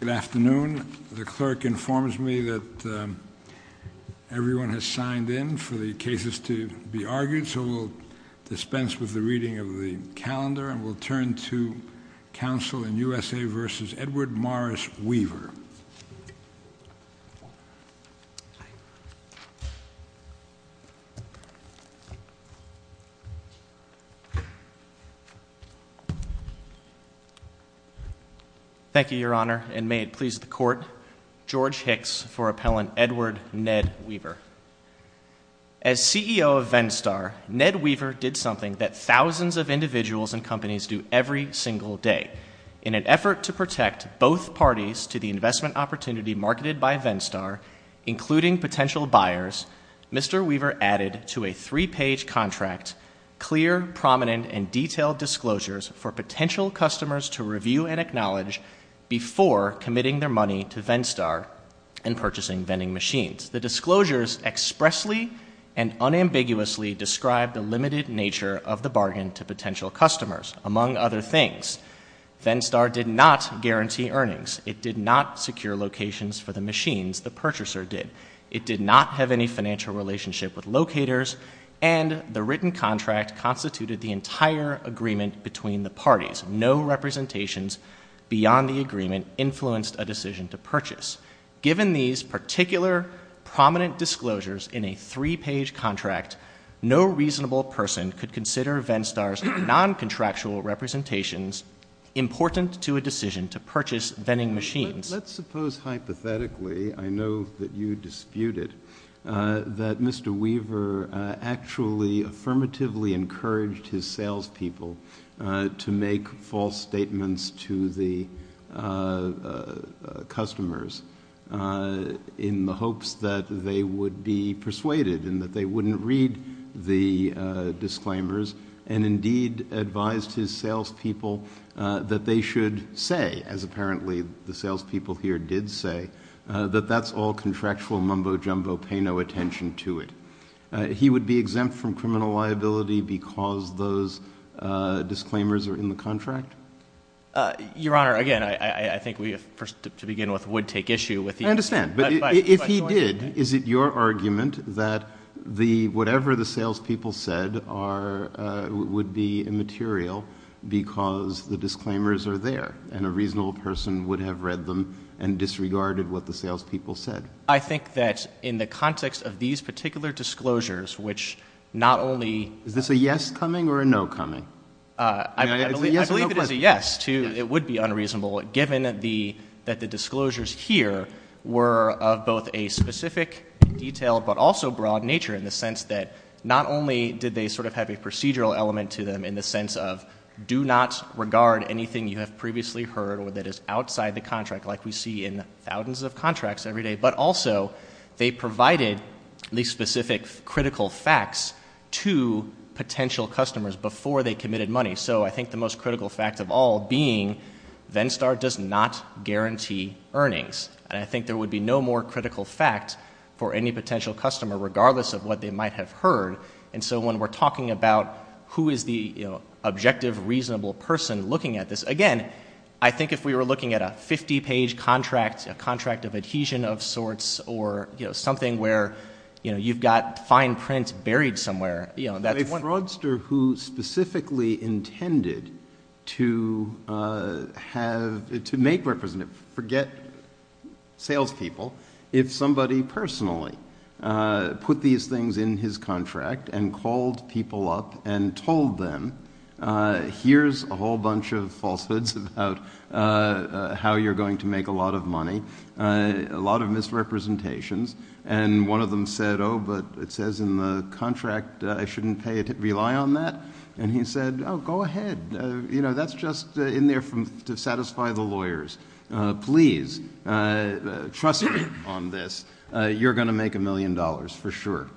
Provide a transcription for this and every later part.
Good afternoon. The clerk informs me that everyone has signed in for the cases to be argued, so we'll dispense with the reading of the calendar and we'll turn to counsel in USA v. Edward Morris Weaver. Thank you, Your Honor, and may it please the Court, George Hicks for Appellant Edward Ned Weaver. As CEO of VennStar, Ned Weaver did something that thousands of individuals and marketed by VennStar, including potential buyers, Mr. Weaver added to a three-page contract clear, prominent, and detailed disclosures for potential customers to review and acknowledge before committing their money to VennStar and purchasing vending machines. The disclosures expressly and unambiguously described the limited nature of the bargain to potential for the machines the purchaser did. It did not have any financial relationship with locators, and the written contract constituted the entire agreement between the parties. No representations beyond the agreement influenced a decision to purchase. Given these particular prominent disclosures in a three-page contract, no reasonable person could consider VennStar's noncontractual representations important to a decision to purchase vending machines. Let's suppose hypothetically, I know that you dispute it, that Mr. Weaver actually affirmatively encouraged his salespeople to make false statements to the customers in the hopes that they would be persuaded and that they wouldn't read the disclaimers and indeed advised his salespeople that they should say, as apparently the salespeople here did say, that that's all contractual mumbo-jumbo, pay no attention to it. He would be exempt from criminal liability because those disclaimers are in the contract? Your Honor, again, I think we, to begin with, would take issue with the I understand, but if he did, is it your argument that whatever the salespeople said would be immaterial because the disclaimers are there and a reasonable person would have read them and disregarded what the salespeople said? I think that in the context of these particular disclosures, which not only Is this a yes coming or a no coming? I believe it is a yes. It would be unreasonable, given that the disclosures here were of both a specific detail, but also broad nature in the sense that not only did they sort of have a procedural element to them in the sense of do not regard anything you have previously heard or that is outside the contract, like we see in thousands of contracts every day, but also they provided at least specific critical facts to potential customers before they committed money. So I think the most critical fact of all being Venstar does not guarantee earnings and I think there would be no more critical fact for any potential customer, regardless of what they might have heard. So when we are talking about who is the objective, reasonable person looking at this, again, I think if we were looking at a 50-page contract, a contract of adhesion of sorts, or something where you have got fine print buried somewhere, that's one— A fraudster who specifically intended to have, to make representative, forget the sales people, if somebody personally put these things in his contract and called people up and told them, here is a whole bunch of falsehoods about how you are going to make a lot of money, a lot of misrepresentations, and one of them said, oh, but it says in the contract I shouldn't pay it, rely on that, and he said, oh, go ahead, that's just in there to satisfy the trust on this, you are going to make a million dollars for sure.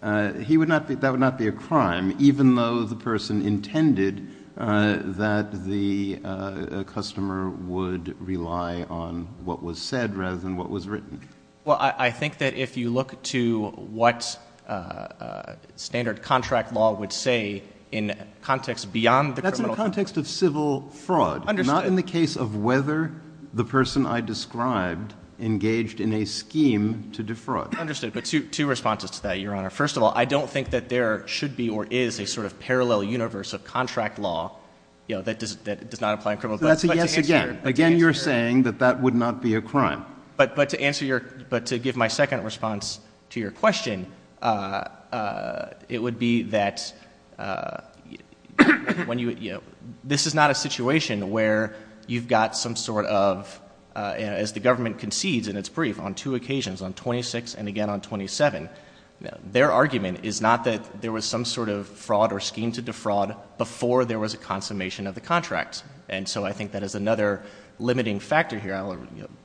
That would not be a crime, even though the person intended that the customer would rely on what was said rather than what was written. Well, I think that if you look to what standard contract law would say in context beyond the criminal— That's in the context of civil fraud, not in the case of whether the person I describe engaged in a scheme to defraud. Understood, but two responses to that, Your Honor. First of all, I don't think that there should be or is a sort of parallel universe of contract law that does not apply in criminal case. That's a yes again. Again, you are saying that that would not be a crime. But to answer your—but to give my second response to your question, it would be that when you—this is not a situation where you've got some sort of—as the government concedes in its brief on two occasions, on 26 and again on 27, their argument is not that there was some sort of fraud or scheme to defraud before there was a consummation of the contract. And so I think that is another limiting factor here.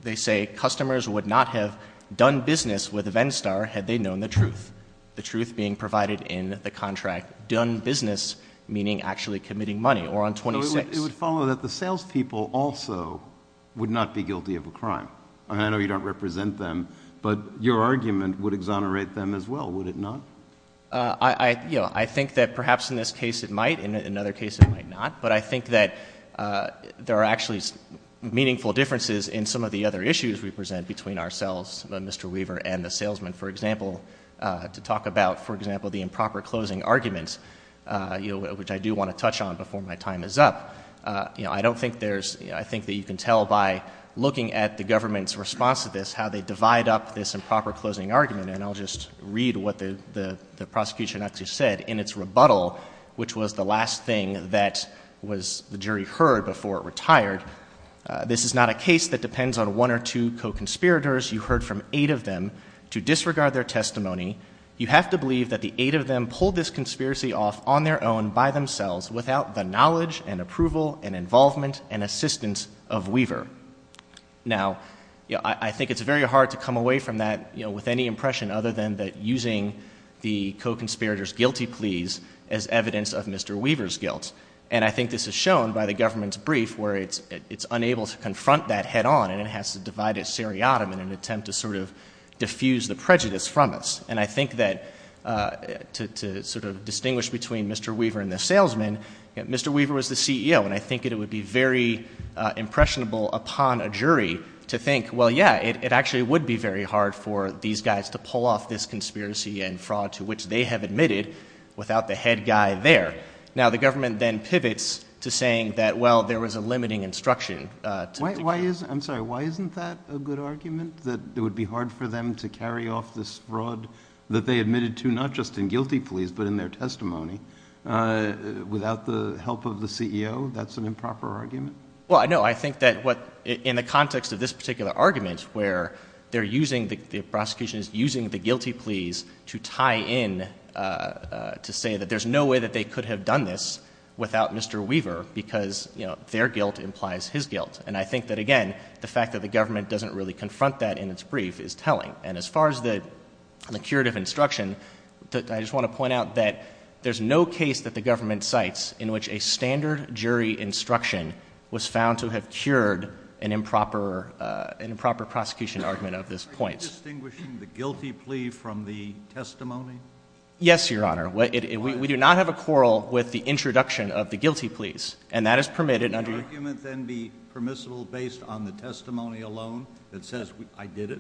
They say customers would not have done business with a Venstar had they known the truth, the truth being provided in the contract done business, meaning actually committing money, or on 26. No, it would follow that the salespeople also would not be guilty of a crime. I know you don't represent them, but your argument would exonerate them as well, would it not? I—you know, I think that perhaps in this case it might, in another case it might not, but I think that there are actually meaningful differences in some of the other issues we present between ourselves, Mr. Weaver, and the salesman. For example, to talk about, for example, the improper closing argument, you know, which I do want to touch on before my time is up, you know, I don't think there's—I think that you can tell by looking at the government's response to this how they divide up this improper closing argument, and I'll just read what the prosecution actually said in its rebuttal, which was the last thing that was—the jury heard before it retired. This is not a case that depends on one or two co-conspirators. You heard from eight of them to disregard their testimony. You have to believe that the eight of them pulled this conspiracy off on their own, by themselves, without the knowledge and approval and involvement and assistance of Weaver. Now, I think it's very hard to come away from that, you know, with any impression other than that using the co-conspirators' guilty pleas as evidence of Mr. Weaver's guilt, and I think this is shown by the government's brief where it's diffused the prejudice from us, and I think that to sort of distinguish between Mr. Weaver and the salesman, you know, Mr. Weaver was the CEO, and I think it would be very impressionable upon a jury to think, well, yeah, it actually would be very hard for these guys to pull off this conspiracy and fraud to which they have admitted without the head guy there. Now, the government then pivots to saying that, well, there was a limiting instruction to— Why is—I'm sorry, why isn't that a good argument, that it would be hard for them to carry off this fraud that they admitted to not just in guilty pleas but in their testimony, without the help of the CEO? That's an improper argument? Well, no, I think that what—in the context of this particular argument where they're using—the prosecution is using the guilty pleas to tie in, to say that there's no way that they could have done this without Mr. Weaver because, you know, their guilt implies his guilt. And I think that, again, the fact that the government doesn't really confront that in its brief is telling. And as far as the curative instruction, I just want to point out that there's no case that the government cites in which a standard jury instruction was found to have cured an improper prosecution argument of this point. Are you distinguishing the guilty plea from the testimony? Yes, Your Honor. We do not have a quarrel with the introduction of the guilty pleas, and that is permitted under— Would the argument then be permissible based on the testimony alone that says, I did it?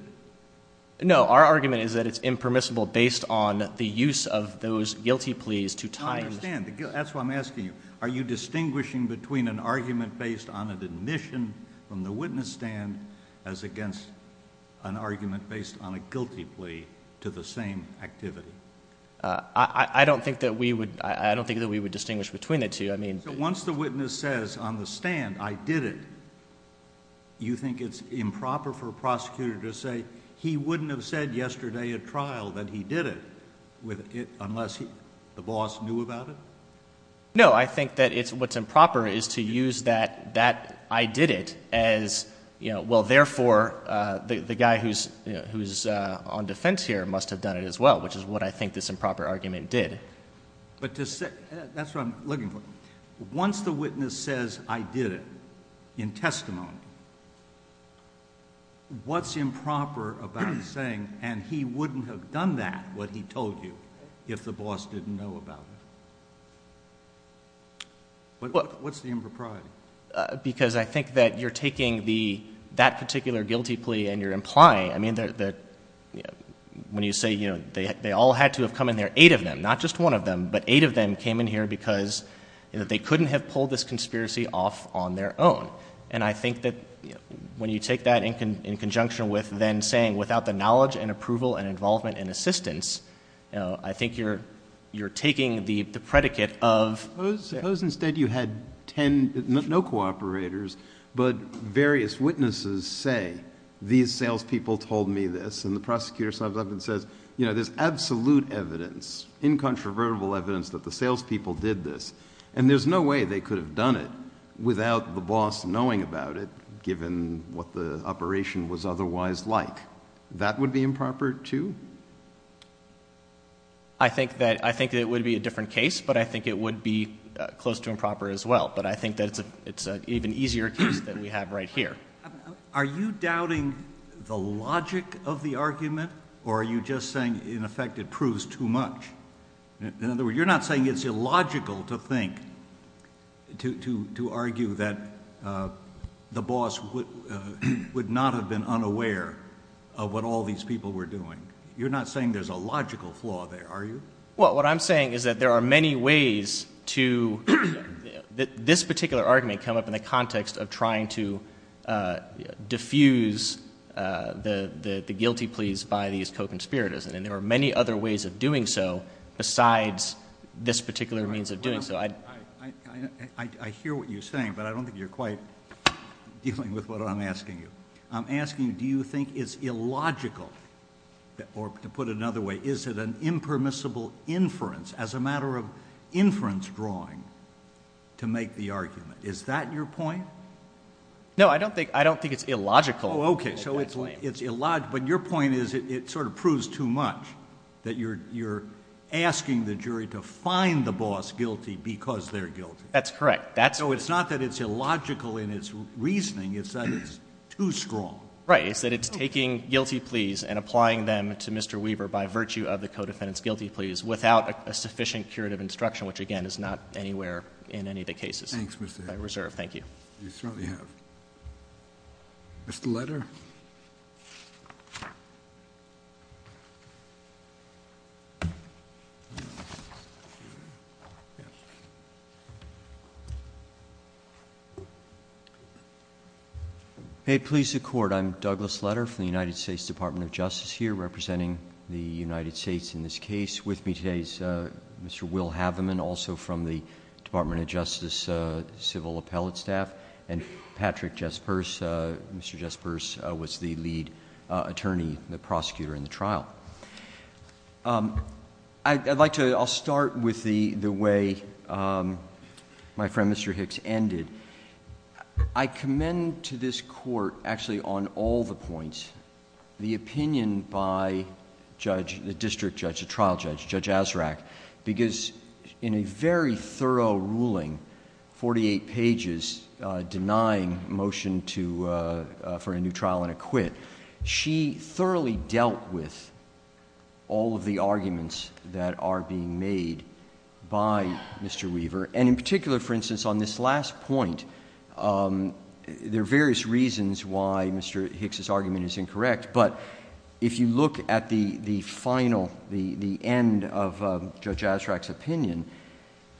No. Our argument is that it's impermissible based on the use of those guilty pleas to tie in— I understand. That's what I'm asking you. Are you distinguishing between an argument based on an admission from the witness stand as against an argument based on a guilty plea to the same activity? I don't think that we would—I don't think that we would distinguish between the two. I mean— So once the witness says on the stand, I did it, you think it's improper for a prosecutor to say, he wouldn't have said yesterday at trial that he did it, unless the boss knew about it? No. I think that what's improper is to use that I did it as, well, therefore, the guy who's on defense here must have done it as well, which is what I think this improper argument did. But to say—that's what I'm looking for. Once the witness says, I did it, in testimony, what's improper about saying, and he wouldn't have done that, what he told you, if the boss didn't know about it? What's the impropriety? Because I think that you're taking that particular guilty plea and you're implying—I mean, that when you say, you know, they all had to have come in there, eight of them, not just one of them, but eight of them came in here because they couldn't have pulled this conspiracy off on their own. And I think that when you take that in conjunction with then saying without the knowledge and approval and involvement and assistance, you know, I think you're taking the predicate of— Suppose instead you had ten—no cooperators, but various witnesses say, these salespeople told me this, and the prosecutor says, you know, there's absolute evidence, incontrovertible evidence that the salespeople did this, and there's no way they could have done it without the boss knowing about it, given what the operation was otherwise like. That would be improper too? I think that it would be a different case, but I think it would be close to improper as well. But I think that it's an even easier case than we have right here. Are you doubting the logic of the argument, or are you just saying, in effect, it proves too much? In other words, you're not saying it's illogical to think—to argue that the boss would not have been unaware of what all these people were doing. You're not saying there's a logical flaw there, are you? Well, what I'm saying is that there are many ways to—this particular argument come up in the context of trying to diffuse the guilty pleas by these co-conspirators, and there are many other ways of doing so besides this particular means of doing so. I hear what you're saying, but I don't think you're quite dealing with what I'm asking you. I'm asking, do you think it's illogical, or to put it another way, is it an impermissible inference, as a matter of inference drawing, to make the argument? Is that your point? No, I don't think it's illogical, if I may explain. Oh, okay. So it's illogical. But your point is it sort of proves too much, that you're asking the jury to find the boss guilty because they're guilty. That's correct. That's— So it's not that it's illogical in its reasoning. It's that it's too strong. Right. It's that it's taking guilty pleas and applying them to Mr. Weaver by virtue of the co-defendant's guilty pleas, without a sufficient curative instruction, which again is not anywhere in any of the cases— Thanks, Mr. Hedges. —by reserve. Thank you. You certainly have. Mr. Leder? Made police of court, I'm Douglas Leder from the United States Department of Justice here, representing the United States in this case. With me today is Mr. Will Haveman, also from the Department of Justice civil appellate staff, and Patrick Jespers. Mr. Jespers was the lead attorney, the prosecutor in the trial. I'd like to—I'll start with the way my friend Mr. Hicks ended. I commend to this by judge, the district judge, the trial judge, Judge Azraq, because in a very thorough ruling, 48 pages denying motion to—for a new trial and a quit, she thoroughly dealt with all of the arguments that are being made by Mr. Weaver. And in particular, for instance, on this last point, there are various reasons why Mr. Hicks' argument is incorrect, but if you look at the final, the end of Judge Azraq's opinion,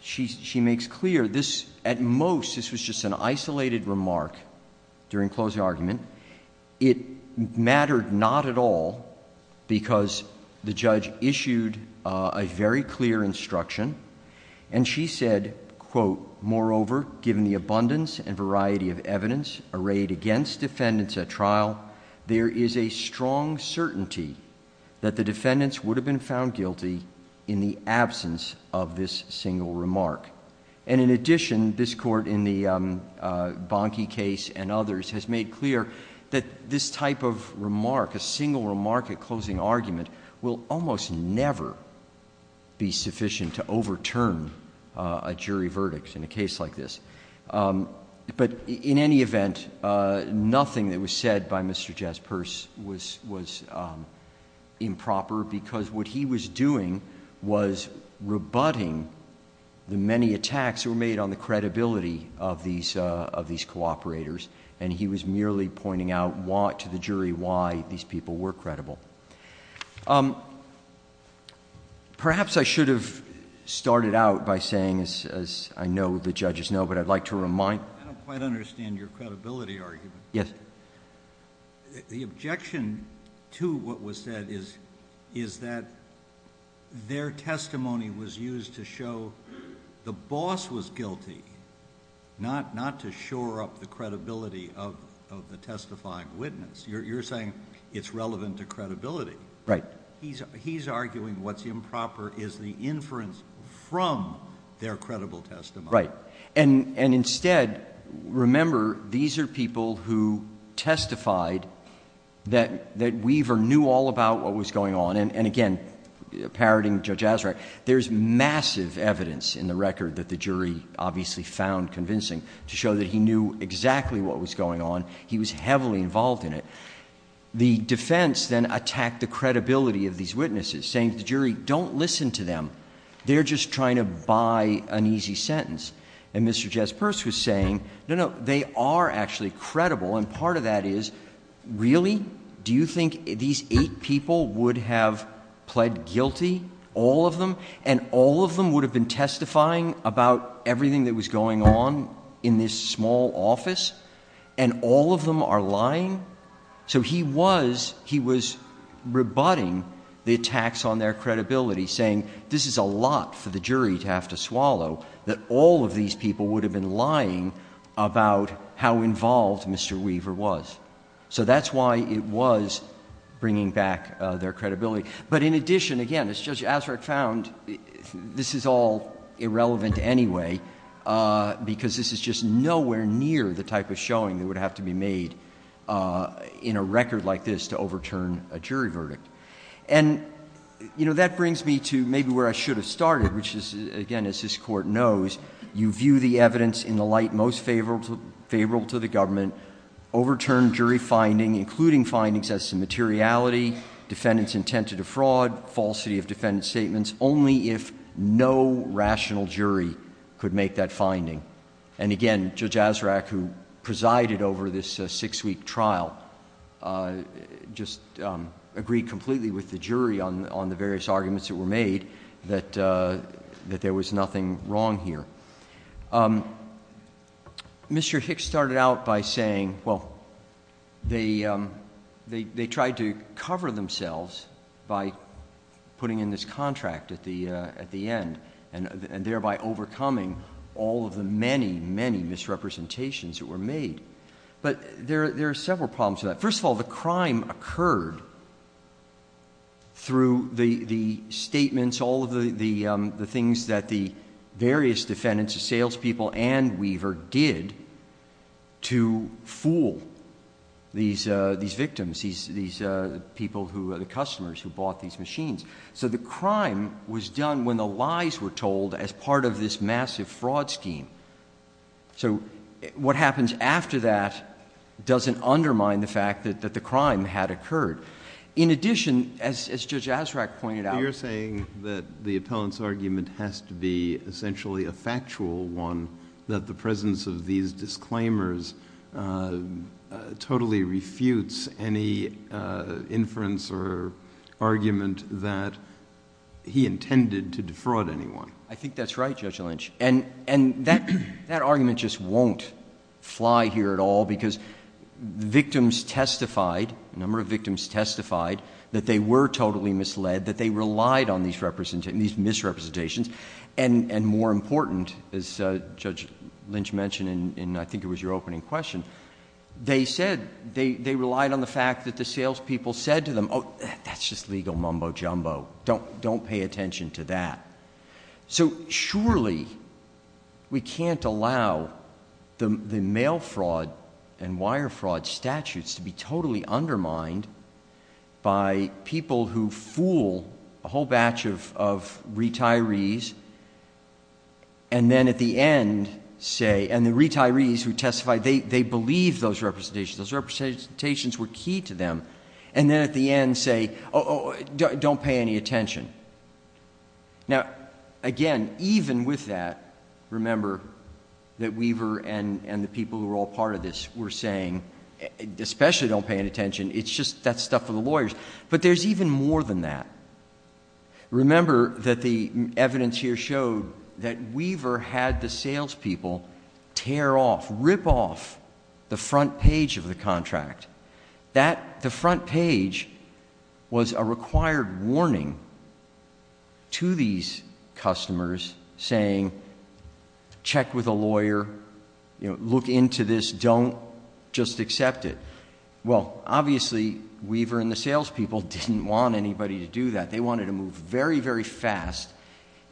she makes clear this—at most, this was just an isolated remark during closing argument. It mattered not at all because the judge issued a very clear instruction, and she said, quote, moreover, given the abundance and variety of evidence arrayed against defendants at trial, there is a strong certainty that the defendants would have been found guilty in the absence of this single remark. And in addition, this Court in the Bonke case and others has made clear that this type of remark, a single remark at closing argument, will almost never be sufficient to overturn a jury verdict in a case like this. But in any event, nothing that was said by Mr. Jaspers was improper because what he was doing was rebutting the many attacks that were made on the credibility of these cooperators, and he was merely pointing out to the jury why these people were credible. Um, perhaps I should have started out by saying, as I know the judges know, but I'd like to remind— I don't quite understand your credibility argument. Yes. The objection to what was said is that their testimony was used to show the boss was guilty, not to shore up the credibility of the testifying witness. You're saying it's relevant to credibility. He's arguing what's improper is the inference from their credible testimony. Right. And instead, remember, these are people who testified that Weaver knew all about what was going on. And again, parroting Judge Azraq, there's massive evidence in the record that the jury obviously found convincing to show that he knew exactly what was going on. He was heavily involved in it. The defense then attacked the credibility of these witnesses, saying to the jury, don't listen to them. They're just trying to buy an easy sentence. And Mr. Jaspers was saying, no, no, they are actually credible. And part of that is, really? Do you think these eight people would have pled guilty, all of them? And all of them would have been testifying about everything that was going on in this small office? And all of them are lying? So he was, he was rebutting the attacks on their credibility, saying this is a lot for the jury to have to swallow, that all of these people would have been lying about how involved Mr. Weaver was. So that's why it was bringing back their credibility. But in addition, again, as Judge Azraq found, this is all irrelevant anyway, because this is just nowhere near the type of showing that would have to be made in a record like this to overturn a jury verdict. And, you know, that brings me to maybe where I should have started, which is, again, as this Court knows, you view the evidence in the light most favorable to the government, overturn jury finding, including findings as to materiality, defendant's intent to defraud, falsity of defendant's statements, only if no rational jury could make that finding. And again, Judge Azraq, who presided over this six-week trial, just agreed completely with the jury on the various arguments that were made that there was nothing wrong here. Mr. Hicks started out by saying, well, they tried to cover themselves by putting in this record, by overcoming all of the many, many misrepresentations that were made. But there are several problems with that. First of all, the crime occurred through the statements, all of the things that the various defendants, the salespeople and Weaver, did to fool these victims, these people, the customers who bought these machines. So the crime was done when the lies were told as part of this massive fraud scheme. So what happens after that doesn't undermine the fact that the crime had occurred. In addition, as Judge Azraq pointed out— But you're saying that the appellant's argument has to be essentially a factual one, that the presence of these disclaimers totally refutes any inference or argument that he intended to defraud anyone? I think that's right, Judge Lynch. And that argument just won't fly here at all, because victims testified, a number of victims testified, that they were totally misled, that they relied on these misrepresentations. And more important, as Judge Lynch mentioned in, I think it was your opening question, they said they relied on the fact that the salespeople said to them, oh, that's just legal mumbo-jumbo. Don't pay attention to that. So surely we can't allow the mail fraud and wire fraud statutes to be totally undermined by people who fool a whole batch of retirees, and then at the end say—and the retirees who testified, they believed those representations. Those representations were key to them. And then at the end say, oh, don't pay any attention. Now, again, even with that, remember that Weaver and the people who were all part of this were saying, especially don't pay any attention, it's just that stuff for the lawyers. But there's even more than that. Remember that the evidence here showed that Weaver had the salespeople tear off, rip off the front page of the contract. The front page was a required warning to these customers saying, check with a lawyer, look into this, don't, just accept it. Well, obviously, Weaver and the salespeople didn't want anybody to do that. They wanted to move very, very fast,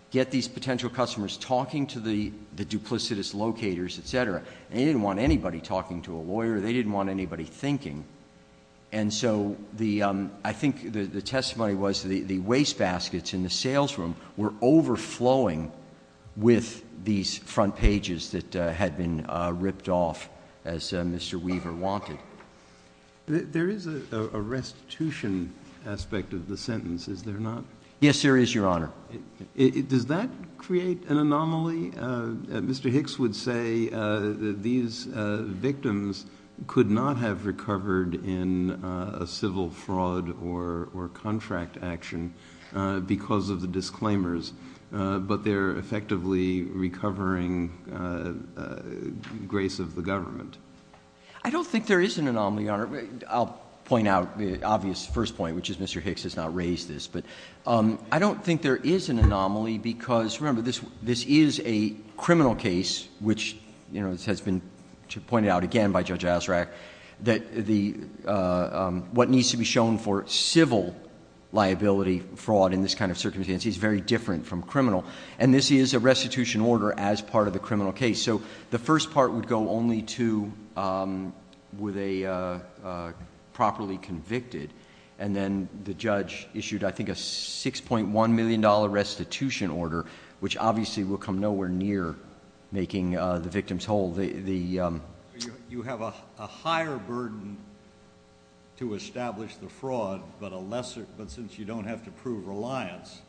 get these potential customers talking to the duplicitous locators, et cetera. They didn't want anybody talking to a lawyer. They didn't want anybody thinking. And so the—I think the testimony was the wastebaskets in the salesroom were overflowing with these front pages that had been ripped off, as Mr. Weaver wanted. There is a restitution aspect of the sentence, is there not? Yes, there is, Your Honor. Does that create an anomaly? Mr. Hicks would say that these victims could not have recovered in a civil fraud or contract action because of the disclaimers, but they're effectively recovering grace of the government. I don't think there is an anomaly, Your Honor. I'll point out the obvious first point, which is Mr. Hicks has not raised this, but I don't think there is an anomaly because, remember, this is a criminal case, which has been pointed out again by Judge Azzarack, that what needs to be shown for civil liability fraud in this kind of circumstance is very different from criminal. And this is a restitution order as part of the criminal case. So the first part would go only to were they properly convicted, and then the judge issued, I think, a $6.1 million restitution order, which obviously will come nowhere near making the victims whole. You have a higher burden to establish the fraud, but since you don't have to prove reliance,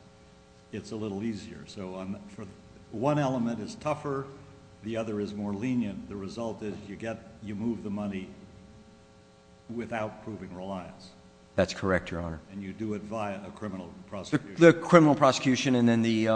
it's a little easier. So one element is tougher, the other is more lenient. The result is you move the money without proving reliance. That's correct, Your Honor. And you do it via a criminal prosecution. The criminal prosecution and then the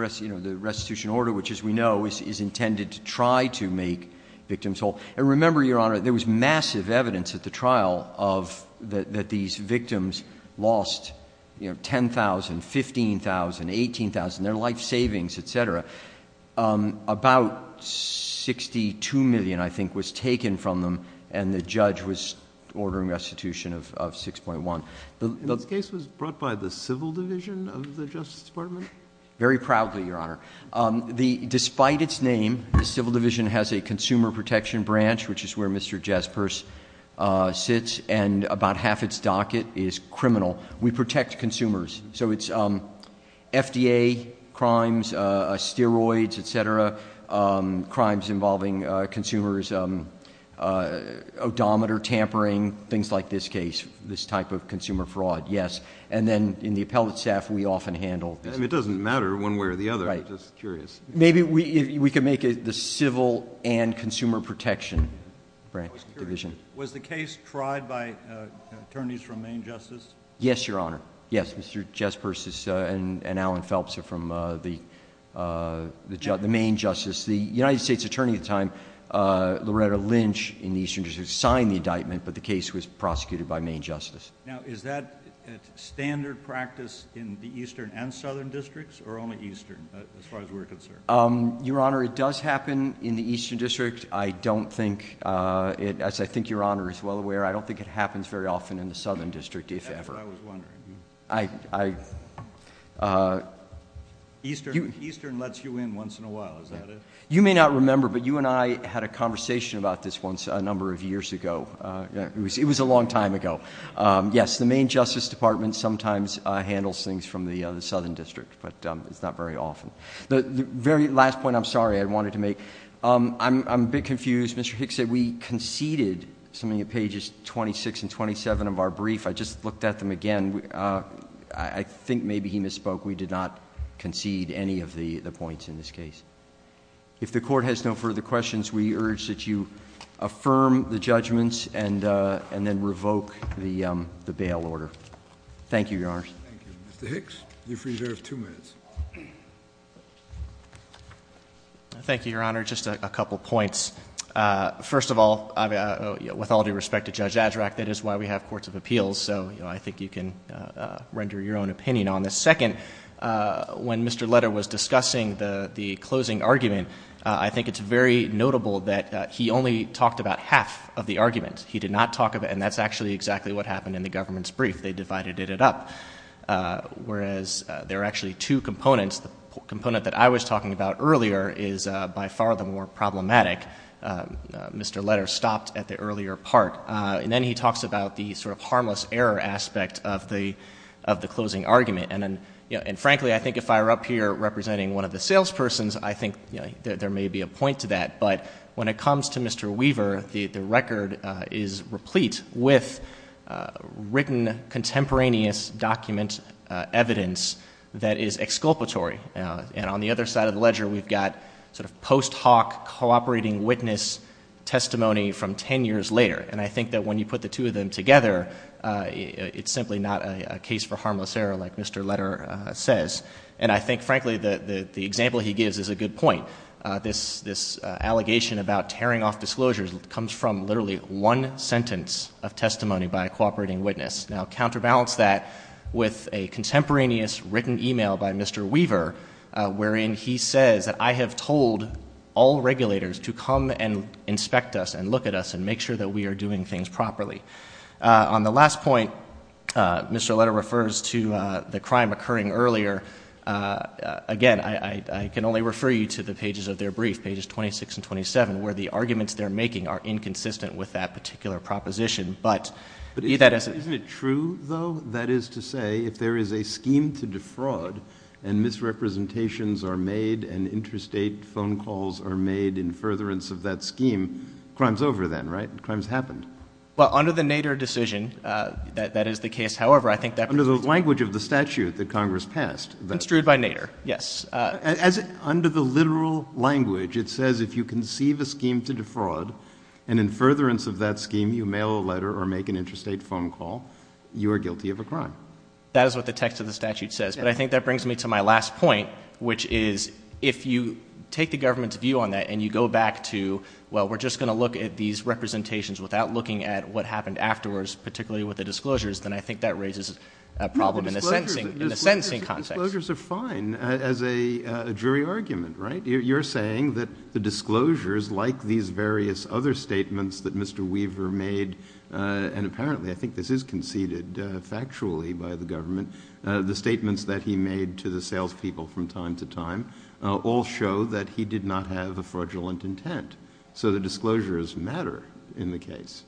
restitution order, which, as we know, is intended to try to make victims whole. And remember, Your Honor, there was massive evidence at the trial of that these victims lost, you know, $10,000, $15,000, $18,000, their life savings, et cetera. About $62 million, I think, was taken from them, and the judge was ordering restitution of $6.1. And this case was brought by the Civil Division of the Justice Department? Very proudly, Your Honor. Despite its name, the Civil Division has a Consumer Protection Branch, which is where Mr. Jespers sits, and about half its docket is criminal. We protect consumers. So it's FDA crimes, steroids, et cetera, crimes involving consumers, odometer tampering, things like this case, this type of consumer fraud, yes. And then in the appellate staff we often handle this. It doesn't matter one way or the other. I'm just curious. Maybe we could make it the Civil and Consumer Protection Branch Division. Was the case tried by attorneys from Maine Justice? Yes, Your Honor. Yes, Mr. Jespers and Alan Phelps are from the Maine Justice. The United States Attorney at the time, Loretta Lynch, in the Eastern District, signed the indictment, but the case was prosecuted by Maine Justice. Now, is that standard practice in the Eastern and Southern Districts, or only Eastern, as far as we're concerned? Your Honor, it does happen in the Eastern District. I don't think, as I think Your Honor is well aware, I don't think it happens very often in the Southern District, if ever. That's what I was wondering. Eastern lets you in once in a while, is that it? You may not remember, but you and I had a conversation about this a number of years ago. It was a long time ago. Yes, the Maine Justice Department sometimes handles things from the Southern District, but it's not very often. The very last point, I'm sorry, I wanted to make. I'm a bit confused. Mr. Hicks said we conceded something at pages 26 and 27 of our brief. I just looked at them again. I think maybe he misspoke. We did not concede any of the points in this case. If the Court has no further questions, we urge that you affirm the judgments and then Mr. Hicks, you've reserved two minutes. Thank you, Your Honor. Just a couple points. First of all, with all due respect to Judge Azarack, that is why we have courts of appeals, so I think you can render your own opinion on this. Second, when Mr. Leder was discussing the closing argument, I think it's very notable that he only talked about half of the argument. He did not talk about, and that's actually exactly what happened in the government's brief. They divided it up, whereas there are actually two components. The component that I was talking about earlier is by far the more problematic. Mr. Leder stopped at the earlier part, and then he talks about the sort of harmless error aspect of the closing argument, and frankly, I think if I were up here representing one of the salespersons, I think there may be a point to that, but when it comes to Mr. Weaver, the record is replete with written contemporaneous document evidence that is exculpatory, and on the other side of the ledger, we've got sort of post-hoc cooperating witness testimony from ten years later, and I think that when you put the two of them together, it's simply not a case for harmless error like Mr. Leder says, and I think the example he gives is a good point. This allegation about tearing off disclosures comes from literally one sentence of testimony by a cooperating witness. Now, counterbalance that with a contemporaneous written email by Mr. Weaver, wherein he says that I have told all regulators to come and inspect us and look at us and make sure that we are doing things properly. On the last point, Mr. Leder refers to the crime occurring earlier. Again, I can only refer you to the pages of their brief, pages 26 and 27, where the arguments they're making are inconsistent with that particular proposition, but be that as it is. Isn't it true, though, that is to say if there is a scheme to defraud and misrepresentations are made and interstate phone calls are made in furtherance of that scheme, crime's over then, right? Crime's happened. Well, under the Nader decision, that is the case. However, I think that Under the language of the statute that Congress passed Construed by Nader, yes. As under the literal language, it says if you conceive a scheme to defraud and in furtherance of that scheme, you mail a letter or make an interstate phone call, you are guilty of a crime. That is what the text of the statute says, but I think that brings me to my last point, which is if you take the government's view on that and you go back to, well, we're just going to look at these representations without looking at what happened afterwards, particularly with the disclosures, then I think that raises a problem in the sentencing context. Disclosures are fine as a jury argument, right? You're saying that the disclosures, like these various other statements that Mr. Weaver made, and apparently, I think this is conceded factually by the government, the statements that he made to the salespeople from time to time, all show that he did not have a fraudulent intent. So the disclosures matter in the case.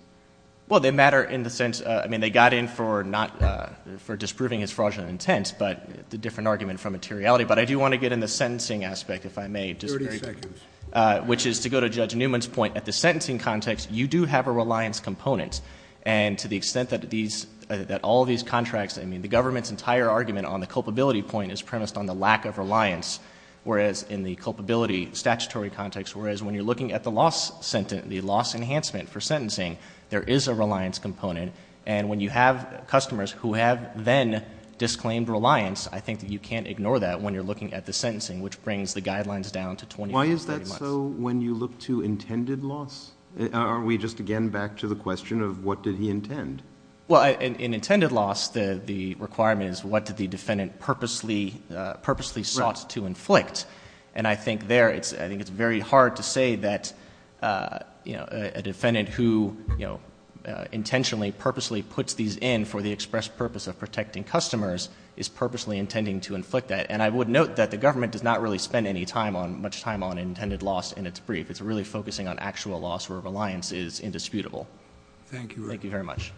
Well, they matter in the sense, I mean, they got in for disproving his fraudulent intent, but the different argument from materiality, but I do want to get in the sentencing aspect, if I may. Thirty seconds. Which is to go to Judge Newman's point, at the sentencing context, you do have a reliance component, and to the extent that all these contracts, I mean, the government's entire argument on the culpability point is premised on the lack of reliance, whereas in the culpability statutory context, whereas when you're looking at the loss enhancement for sentencing, there is a reliance component, and when you have customers who have then disclaimed reliance, I think that you can't ignore that when you're looking at the sentencing, which brings the guidelines down to 20 to 30 months. Why is that so when you look to intended loss? Are we just again back to the question of what did he intend? Well, in intended loss, the requirement is what did the defendant purposely sought to intentionally, purposely puts these in for the express purpose of protecting customers is purposely intending to inflict that, and I would note that the government does not really spend any time on, much time on intended loss in its brief. It's really focusing on actual loss where reliance is indisputable. Thank you. Thank you very much.